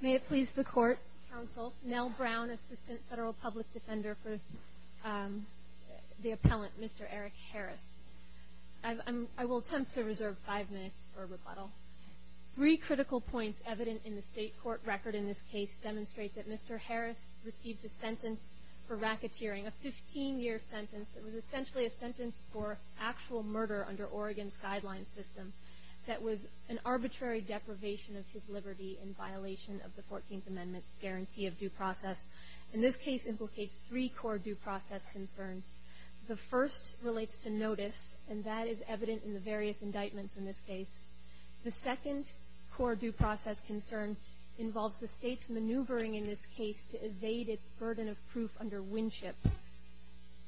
May it please the Court, Counsel, Nell Brown, Assistant Federal Public Defender for the Appellant, Mr. Eric Harris. I will attempt to reserve five minutes for rebuttal. Three critical points evident in the State Court record in this case demonstrate that Mr. Harris received a sentence for racketeering, a 15-year sentence that was essentially a sentence for actual murder under Oregon's guideline system that was an arbitrary deprivation of his liberty in violation of the Fourteenth Amendment's guarantee of due process. And this case implicates three core due process concerns. The first relates to notice, and that is evident in the various indictments in this case. The second core due process concern involves the burden of proof under Winship,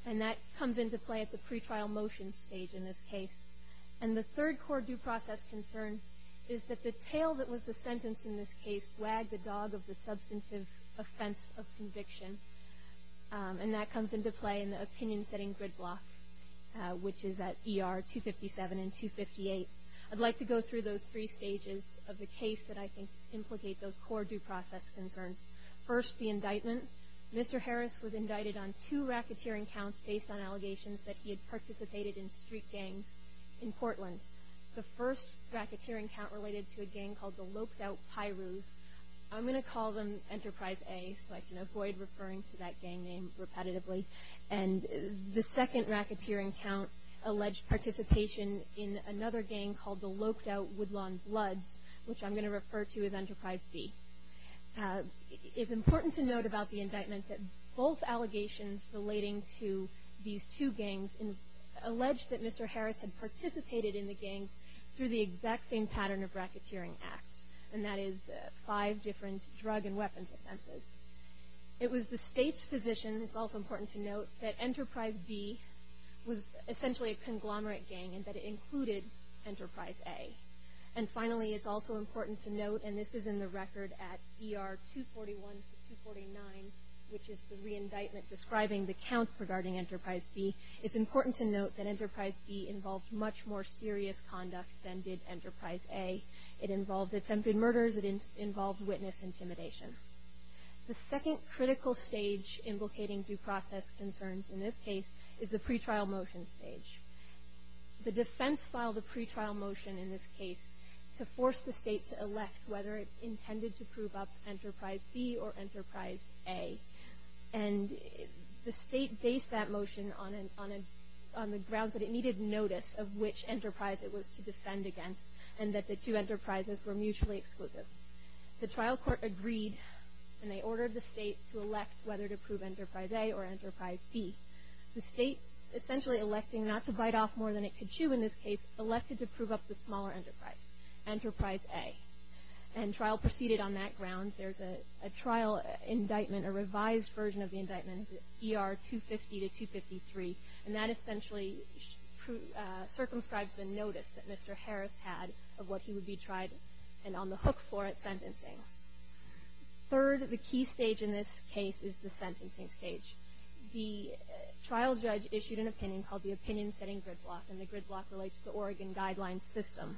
and that comes into play at the pretrial motion stage in this case. And the third core due process concern is that the tail that was the sentence in this case wagged the dog of the substantive offense of conviction, and that comes into play in the opinion-setting grid block, which is at ER 257 and 258. I'd like to go through those three stages of the case that I think implicate those core due process concerns. First, the indictment. Mr. Harris was indicted on two racketeering counts based on allegations that he had participated in street gangs in Portland. The first racketeering count related to a gang called the Loped Out Pirus. I'm going to call them Enterprise A so I can avoid referring to that gang name repetitively. And the second racketeering count alleged participation in another gang called the Loped Out Pirus, which I'm going to refer to as Enterprise B. It's important to note about the indictment that both allegations relating to these two gangs allege that Mr. Harris had participated in the gangs through the exact same pattern of racketeering acts, and that is five different drug and weapons offenses. It was the state's position, it's also important to note, that Enterprise B was essentially a conglomerate gang and that it included Enterprise A. And finally, it's also important to note, and this is in the record at ER 241 to 249, which is the re-indictment describing the count regarding Enterprise B, it's important to note that Enterprise B involved much more serious conduct than did Enterprise A. It involved attempted murders, it involved witness intimidation. The second critical stage implicating due process concerns in this case is the pretrial motion stage. The defense filed a pretrial motion in this case to force the state to elect whether it intended to prove up Enterprise B or Enterprise A. And the state based that motion on the grounds that it needed notice of which enterprise it was to defend against, and that the two enterprises were mutually exclusive. The trial court agreed and they ordered the state to elect whether to prove Enterprise A or Enterprise B. The state, essentially electing not to bite off more than it could chew in this case, elected to enterprise A. And trial proceeded on that ground. There's a trial indictment, a revised version of the indictment at ER 250 to 253, and that essentially circumscribes the notice that Mr. Harris had of what he would be tried and on the hook for at sentencing. Third, the key stage in this case is the sentencing stage. The trial judge issued an opinion called the Opinion Setting Grid block relates to the Oregon Guidelines System.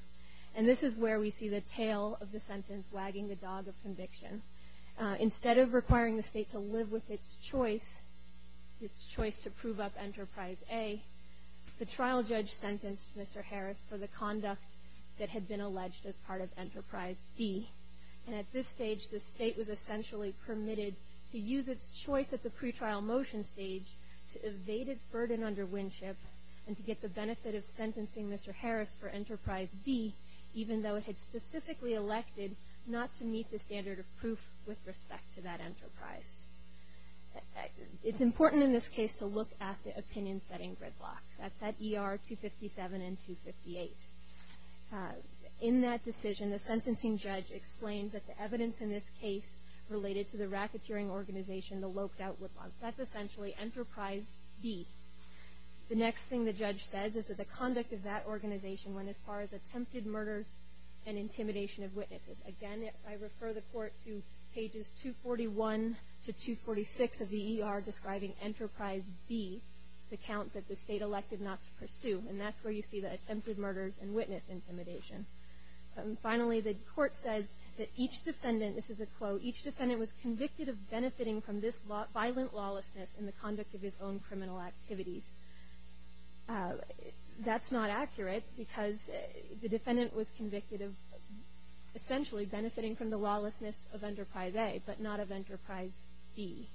And this is where we see the tail of the sentence wagging the dog of conviction. Instead of requiring the state to live with its choice, its choice to prove up Enterprise A, the trial judge sentenced Mr. Harris for the conduct that had been alleged as part of Enterprise B. And at this stage, the state was essentially permitted to use its choice at the pretrial motion stage to evade its burden under Winship and to get the sentencing Mr. Harris for Enterprise B, even though it had specifically elected not to meet the standard of proof with respect to that enterprise. It's important in this case to look at the Opinion Setting Grid block. That's at ER 257 and 258. In that decision, the sentencing judge explained that the evidence in this case related to the racketeering organization, that's essentially Enterprise B. The next thing the judge says is that the conduct of that organization went as far as attempted murders and intimidation of witnesses. Again, I refer the court to pages 241 to 246 of the ER describing Enterprise B, the count that the state elected not to pursue. And that's where you see the attempted murders and witness intimidation. Finally, the court says that each defendant, this is a quote, each defendant was convicted of benefiting from this violent lawlessness in the conduct of his own criminal activities. That's not accurate because the defendant was convicted of essentially benefiting from the lawlessness of Enterprise A, but not of Enterprise B.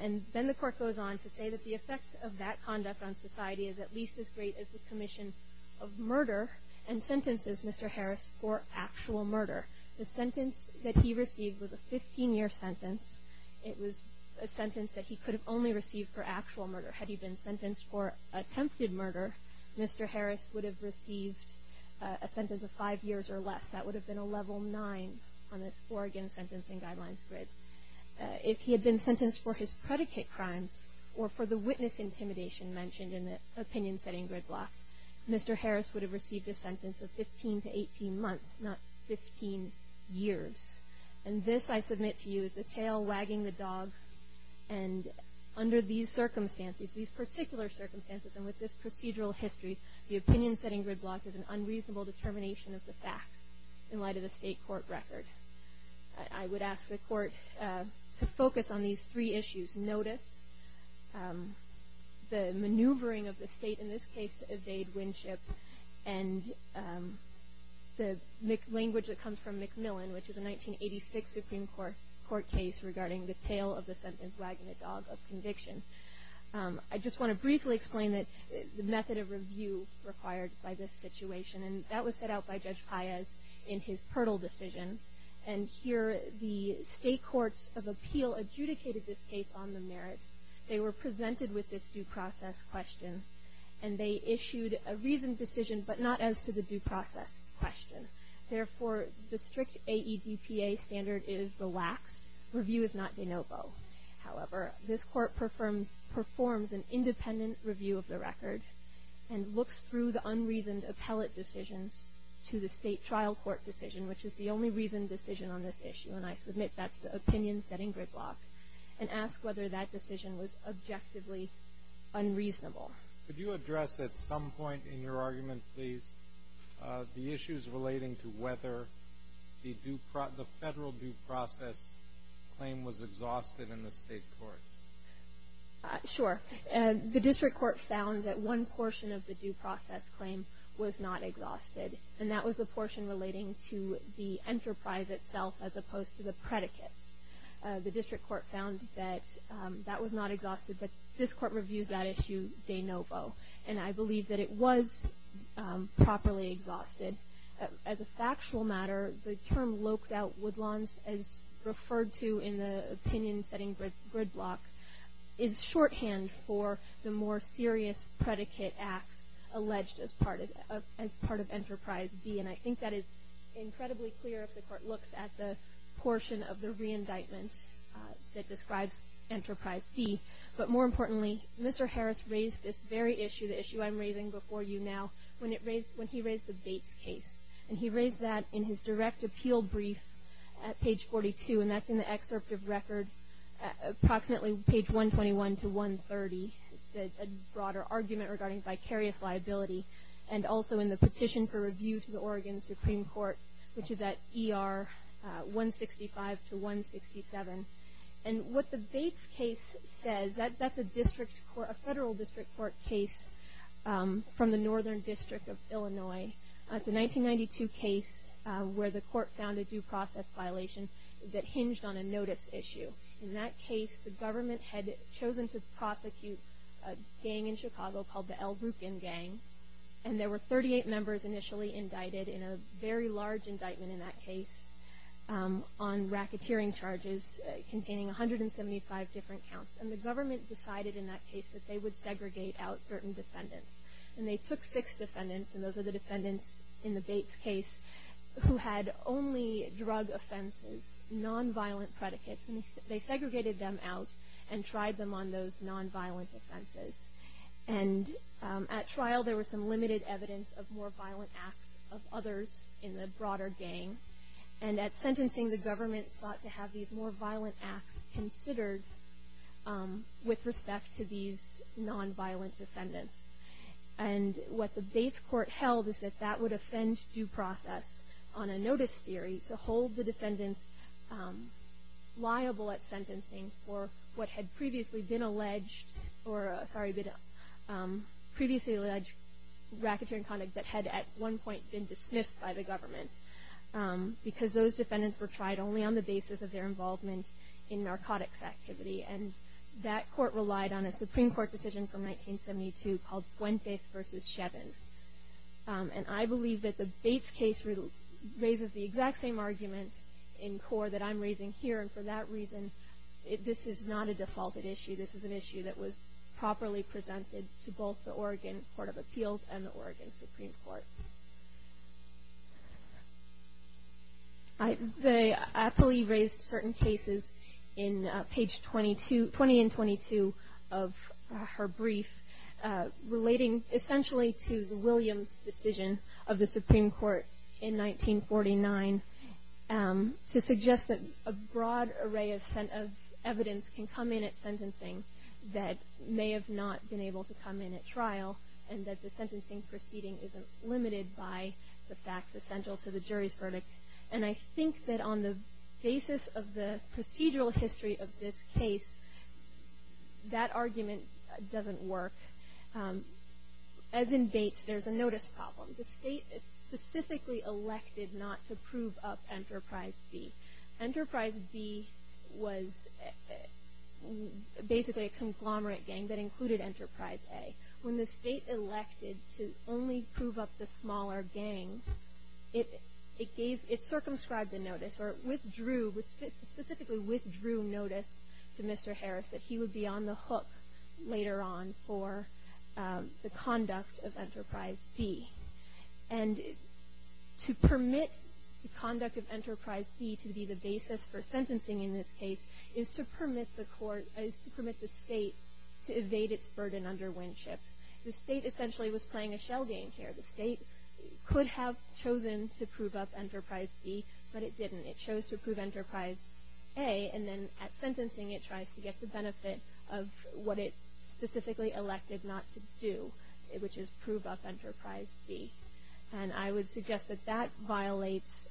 And then the court goes on to say that the effect of that conduct on society is at least as great as the commission of murder and sentences Mr. Harris for actual murder. The sentence that he received was a 15-year sentence. It was a sentence that he could have only received for actual murder. Had he been sentenced for attempted murder, Mr. Harris would have received a sentence of five years or less. That would have been a level nine on the Oregon Sentencing Guidelines grid. If he had been sentenced for his predicate crimes or for the witness intimidation mentioned in the Opinion Setting Grid block, Mr. Harris would have received a sentence of 15 to 18 months, not 15 years. And this, I submit to you, is the tail wagging the dog. And under these circumstances, these particular circumstances, and with this procedural history, the Opinion Setting Grid block is an unreasonable determination of the facts in light of the state court record. I would ask the court to focus on these three issues. Notice the maneuvering of the state in this case to evade Winship and the language that comes from McMillan, which is a 1986 Supreme Court case regarding the tail of the sentence wagging the dog of conviction. I just want to briefly explain that the method of review required by this situation, and that was set out by Judge Paez in his Purtle decision. And here the state courts of They were presented with this due process question, and they issued a reasoned decision, but not as to the due process question. Therefore, the strict AEDPA standard is relaxed. Review is not de novo. However, this court performs an independent review of the record and looks through the unreasoned appellate decisions to the state trial court decision, which is the only reasoned decision on this issue, and I submit that's the Opinion Setting Grid block, and ask whether that decision was objectively unreasonable. Could you address at some point in your argument, please, the issues relating to whether the federal due process claim was exhausted in the state courts? Sure. The district court found that one portion of the due process claim was not exhausted, and that was the portion relating to the enterprise itself, as opposed to the predicates. The district court found that that was not exhausted, but this court reviews that issue de novo, and I believe that it was properly exhausted. As a factual matter, the term loped out woodlawns, as referred to in the Opinion Setting Grid block, is shorthand for the more I think that is incredibly clear if the court looks at the portion of the re-indictment that describes Enterprise B. But more importantly, Mr. Harris raised this very issue, the issue I'm raising before you now, when he raised the Bates case, and he raised that in his direct appeal brief at page 42, and that's in the excerpt of record, approximately page 121 to 130. It's a argument regarding vicarious liability, and also in the petition for review to the Oregon Supreme Court, which is at ER 165 to 167. And what the Bates case says, that's a federal district court case from the Northern District of Illinois. It's a 1992 case where the court found a due process violation that hinged on a notice issue. In that case, the government had chosen to prosecute a gang in Chicago called the El Rukin Gang, and there were 38 members initially indicted in a very large indictment in that case on racketeering charges containing 175 different counts. And the government decided in that case that they would segregate out certain defendants. And they took six defendants, and those are the defendants in the Bates case, who had only drug offenses, nonviolent predicates, and they segregated them out and tried them on those nonviolent offenses. And at trial, there was some limited evidence of more violent acts of others in the broader gang. And at sentencing, the government sought to have these more violent acts considered with respect to these nonviolent defendants. And what the Bates court held is that that would offend due process on a notice theory to hold the defendants liable at sentencing for what had previously been alleged or, sorry, previously alleged racketeering conduct that had at one point been dismissed by the government because those defendants were tried only on the basis of their involvement in narcotics activity. And that court relied on a Supreme Court decision from 1972 called Bates case raises the exact same argument in core that I'm raising here. And for that reason, this is not a defaulted issue. This is an issue that was properly presented to both the Oregon Court of Appeals and the Oregon Supreme Court. They aptly raised certain cases in page 20 and 22 of her brief relating essentially to Williams' decision of the Supreme Court in 1949 to suggest that a broad array of evidence can come in at sentencing that may have not been able to come in at trial and that the sentencing proceeding isn't limited by the facts essential to the jury's verdict. And I think that on the notice problem, the state is specifically elected not to prove up Enterprise B. Enterprise B was basically a conglomerate gang that included Enterprise A. When the state elected to only prove up the smaller gang, it circumscribed the notice or withdrew, specifically withdrew notice to Mr. Harris that he would be on the hook later on for the conduct of Enterprise B. And to permit the conduct of Enterprise B to be the basis for sentencing in this case is to permit the court is to permit the state to evade its burden under Winship. The state essentially was playing a shell game here. The state could have chosen to prove up sentencing. It tries to get the benefit of what it specifically elected not to do, which is prove up Enterprise B. And I would suggest that that violates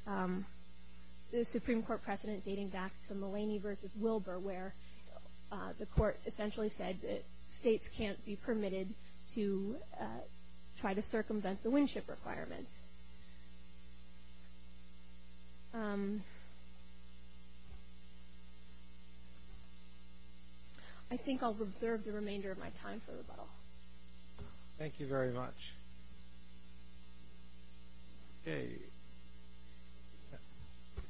the Supreme Court precedent dating back to Mulaney versus Wilbur, where the court essentially said that states can't be permitted to try to circumvent the Winship requirement. I think I'll reserve the remainder of my time for rebuttal. Thank you very much. Okay.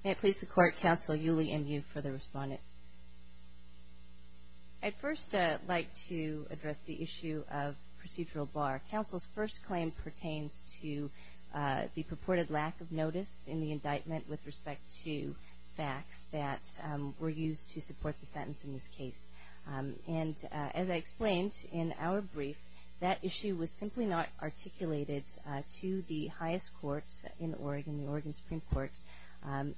May it please the Court, Counsel, Yuli M. Yu for the respondent. I'd first like to address the issue of procedural bar. Counsel's first claim pertains to the purported lack of notice in the indictment with respect to facts that were used to support the sentence in this case. And as I explained in our brief, that issue was simply not articulated to the highest courts in Oregon, the Oregon Supreme Court,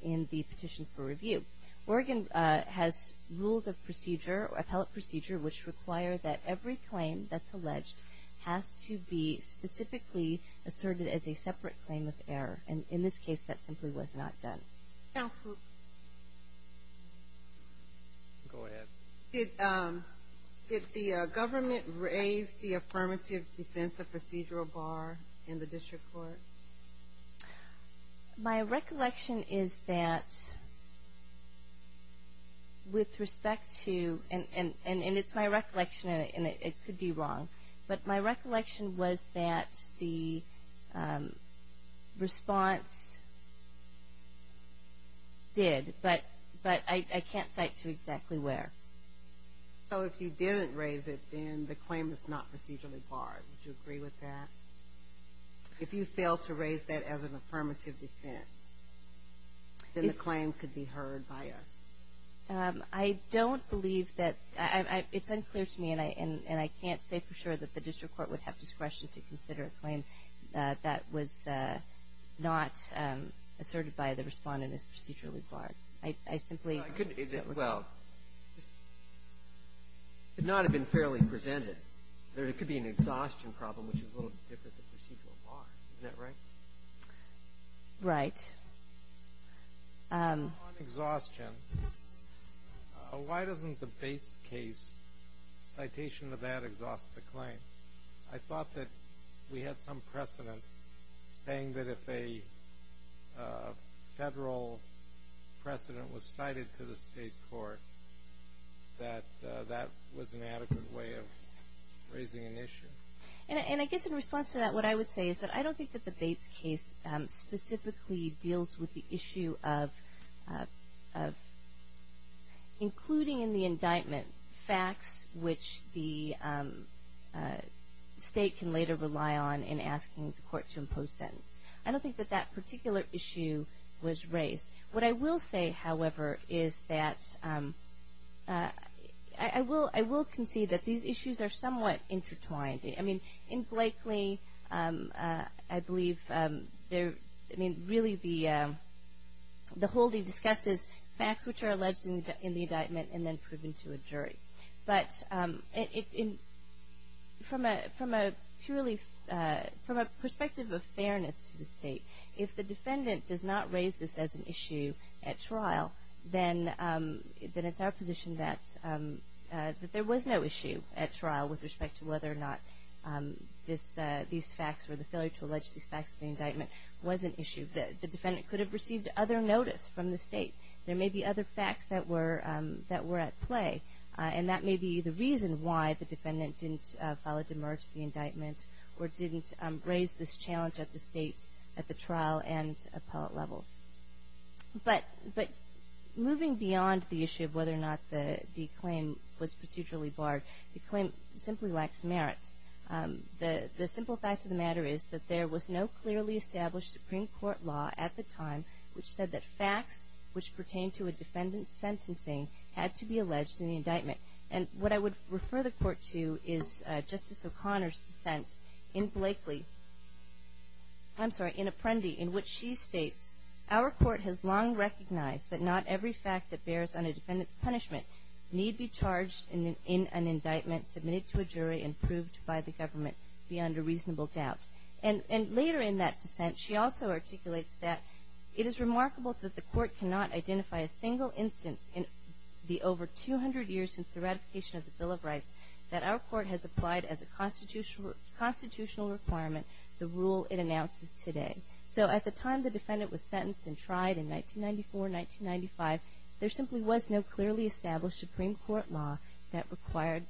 in the petition for review. Oregon has rules of procedure, appellate procedure, which require that every claim that's alleged has to be specifically asserted as a separate claim of error. And in this case, that simply was not done. Counsel? Go ahead. Did the government raise the affirmative defense of procedural bar in the district court? My recollection is that with respect to, and it's my recollection, and it could be wrong, but my recollection was that the response did, but I can't cite to exactly where. So if you didn't raise it, then the claim is not procedurally barred. Would you agree with that? If you fail to raise that as an affirmative defense, then the claim could be heard by us. I don't believe that, it's unclear to me, and I can't say for sure that the district court would have discretion to consider a claim that was not asserted by the respondent as procedurally barred. I simply. Well, it could not have been fairly presented. There could be an exhaustion problem, which is a little different than procedural bar. Isn't that right? Right. On exhaustion, why doesn't the Bates case citation of that exhaust the claim? I thought that we had some precedent saying that if a federal precedent was cited to the state court, that that was an adequate way of raising an issue. And I guess in response to that, what I would say is that I don't think that the Bates case specifically deals with the issue of including in the indictment facts which the state can later rely on in asking the court to impose sentence. I don't think that that particular issue was raised. What I will say, however, is that I will concede that these issues are somewhat intertwined. I mean, in Blakely, I believe there, I mean, really the holding discusses facts which are alleged in the indictment and then proven to a jury. But from a purely, from a perspective of fairness to the state, if the defendant does not raise this as an issue at trial, then it's our position that there was no issue at trial with respect to whether or not these facts or the failure to allege these facts in the indictment was an issue. The defendant could have received other notice from the state. There may be other facts that were at play. And that may be the reason why the defendant didn't file a demerit to the indictment or didn't raise this challenge at the state, at the trial and appellate levels. But moving beyond the issue of whether or not the claim was procedurally barred, the claim simply lacks merit. The simple fact of the matter is that there was no clearly established Supreme Court law at the time which said that facts which pertain to a defendant's sentencing had to be alleged in the indictment. And what I would refer the court to is Justice O'Connor's dissent in Blakely, I'm sorry, in Apprendi, in which she states, our court has long recognized that not every fact that bears on a defendant's punishment need be charged in an indictment submitted to a jury and proved by the government beyond a reasonable doubt. And later in that dissent, she also articulates that it is remarkable that the court cannot identify a single instance in the over 200 years since the ratification of the Bill of Rights that our court has applied as a constitutional requirement the rule it announces today. So at the time the defendant was sentenced and tried in 1994, 1995, there simply was no clearly established Supreme Court law that required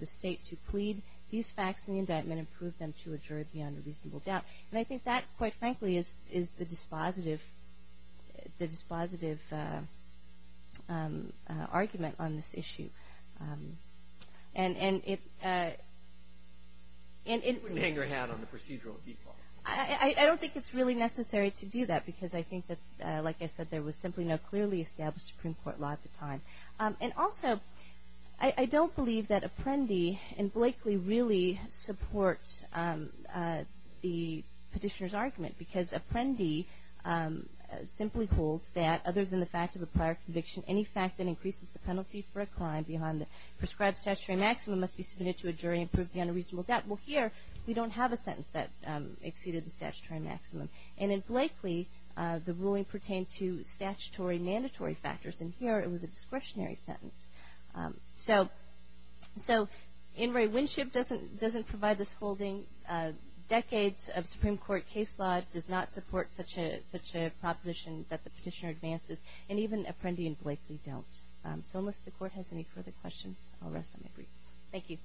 the state to plead these facts in the indictment and prove them to a jury beyond a reasonable doubt. And I think that, quite frankly, is the dispositive argument on this issue. And it would hang her hat on the procedural default. I don't think it's really necessary to do that because I think that, like I said, there was simply no clearly established Supreme Court law at the time. And also, I don't believe that Apprendi and Blakely really support the petitioner's argument because Apprendi simply holds that other than the fact of a prior conviction, any fact that increases the penalty for a crime beyond the prescribed statutory maximum must be submitted to a jury and proved beyond a reasonable doubt. Well, here, we don't have a sentence that exceeded the statutory maximum. And in Blakely, the ruling pertained to statutory mandatory factors. And here, it was a discretionary sentence. So In re Winship doesn't provide this holding. Decades of Supreme Court case law does not support such a proposition that the petitioner advances. And even Apprendi and Blakely don't. So unless the Court has any further questions, I'll rest on my brief. Thank you.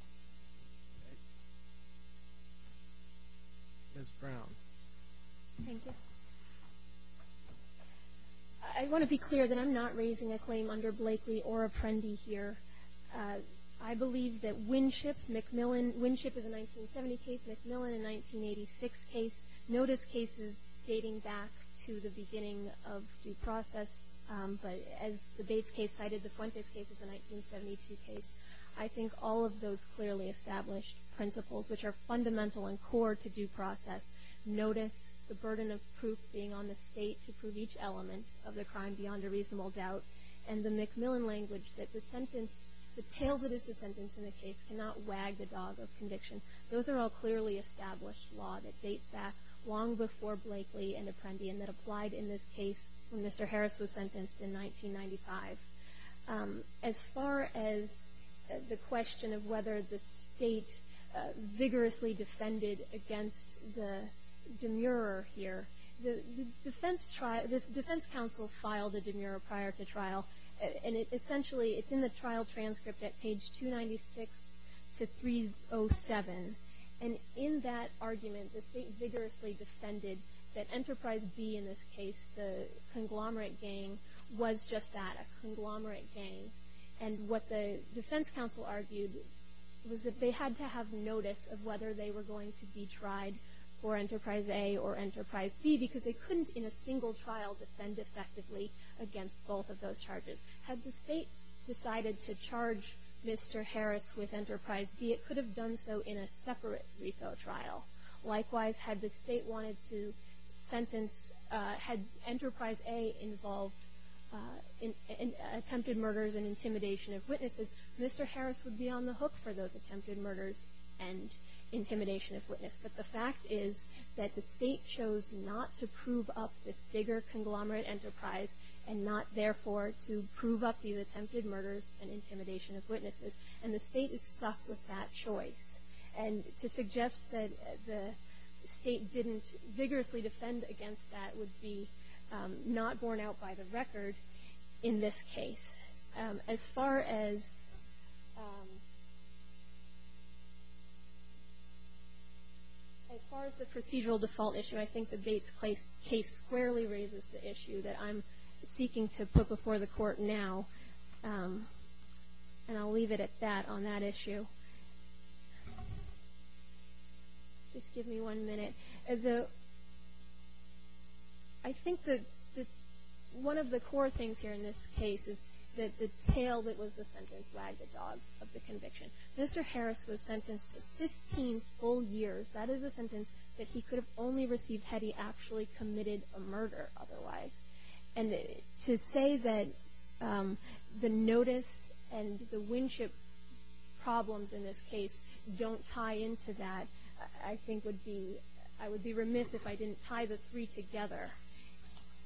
MS. BROWN. Thank you. I want to be clear that I'm not raising a claim under Blakely or Apprendi here. I believe that Winship, McMillan. Winship is a 1970 case. McMillan, a 1986 case. Notice cases dating back to the beginning of due process. But as the Bates case cited, the Fuentes case is a 1972 case. I think all of those clearly established principles, which are fundamental and core to due process, notice the burden of proof being on the state to prove each element of the crime beyond a reasonable doubt, and the McMillan language that the sentence, the tale that is the sentence in the case cannot wag the dog of conviction. Those are all clearly established law that date back long before Blakely and Apprendi, and that applied in this case when Mr. Harris was sentenced in 1995. As far as the question of whether the state vigorously defended against the demurrer here, the defense trial, the defense counsel filed a demurrer prior to trial. And it essentially, it's in the trial transcript at page 296 to 307. And in that argument, the state vigorously defended that Enterprise B in this case, the conglomerate gang, was just that, a conglomerate gang. And what the defense counsel argued was that they had to have notice of whether they were going to be tried for Enterprise A or Enterprise B because they couldn't in a single trial defend effectively against both of those charges. Had the state decided to charge Mr. Harris with Enterprise B, it could have done so in a separate refel trial. Likewise, had the state wanted to sentence, had Enterprise A involved in attempted murders and intimidation of witnesses, Mr. Harris would be on the hook for those attempted murders and intimidation of witnesses. But the fact is that the state chose not to prove up this bigger conglomerate enterprise and not, therefore, to prove up the attempted murders and intimidation of witnesses. And the state is stuck with that choice. And to suggest that the state didn't vigorously defend against that would be not borne out by the record in this case. As far as the procedural default issue, I think the Bates case squarely raises the issue that I'm seeking to put before the court now. And I'll leave it at that on that issue. Just give me one minute. I think that one of the core things here in this case is that the tail that was the sentence wagged the dog of the conviction. Mr. Harris was sentenced to 15 full years. That is a sentence that he could have only received had he actually committed a murder otherwise. And to say that the notice and the Winship problems in this case don't tie into that, I think would be, I would be remiss if I didn't tie the three together.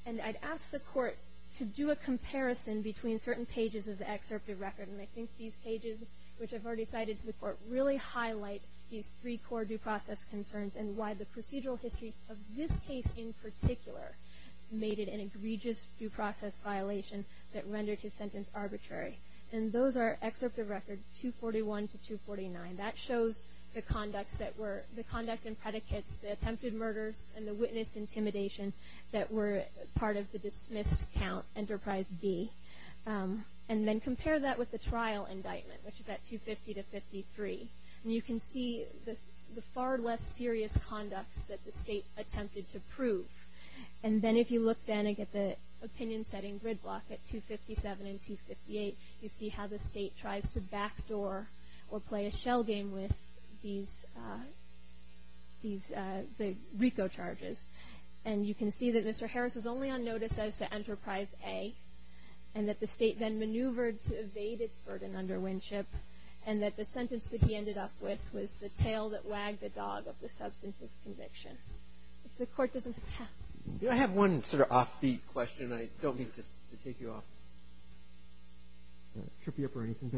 And I'd ask the court to do a comparison between certain pages of the excerptive record. And I think these pages, which I've already cited to the court, really highlight these three core due process concerns and why the procedural history of this case in particular made it an egregious due process violation that rendered his sentence arbitrary. And those are excerptive record 241 to 249. That shows the conducts that were, the conduct and predicates, the attempted murders and the witness intimidation that were part of the dismissed count, enterprise B. And then compare that with the trial indictment, which is at 250 to 53. And you can see the far less serious conduct that the state attempted to prove. And then if you look then and get the opinion setting gridlock at 257 and 258, you see how the state tries to backdoor or play a shell game with these, these, the RICO charges. And you can see that Mr. Harris was only on notice as to enterprise A, and that the state then maneuvered to evade its burden under Winship, and that the sentence that he ended up with was the tail that wagged the dog of the substantive conviction. If the court doesn't have. You know, I have one sort of offbeat question. I don't mean just to take you off, trip you up or anything.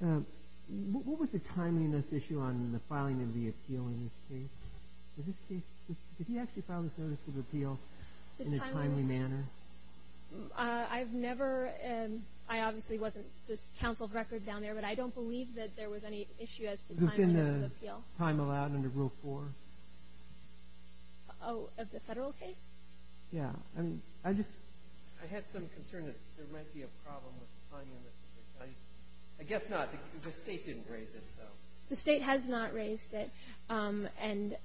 But what was the timeliness issue on the filing of the appeal in this case? In this case, did he actually file this notice of appeal in a timely manner? I've never, I obviously wasn't this counsel of record down there, but I don't believe that there was any issue as to timeliness of appeal. Time allowed under rule four? Oh, of the federal case? Yeah. I mean, I just, I had some concern that there might be a problem with the timeliness. I guess not. The state didn't raise it, so. The state has not raised it. And.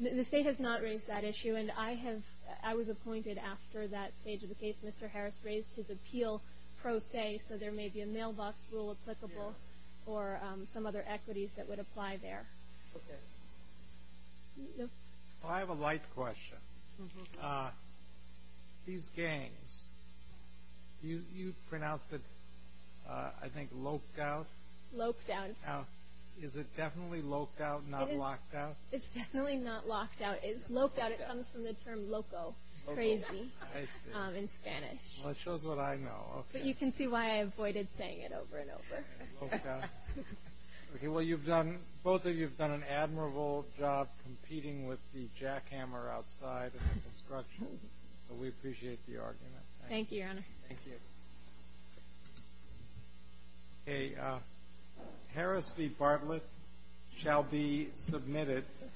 The state has not raised that issue. And I have, I was appointed after that stage of the case. Mr. Harris raised his appeal pro se. So there may be a mailbox rule applicable or some other equities that would apply there. Okay. Well, I have a light question. These gangs, you pronounced it, I think, loc'd out? Loc'd out. Now, is it definitely loc'd out, not locked out? It's definitely not locked out. It's loc'd out. It comes from the term loco, crazy in Spanish. Well, it shows what I know. But you can see why I avoided saying it over and over. Loc'd out. Okay, well, you've done, both of you've done an admirable job competing with the jackhammer outside of the construction. So we appreciate the argument. Thank you, Your Honor. Thank you. Okay. Harris v. Bartlett shall be submitted.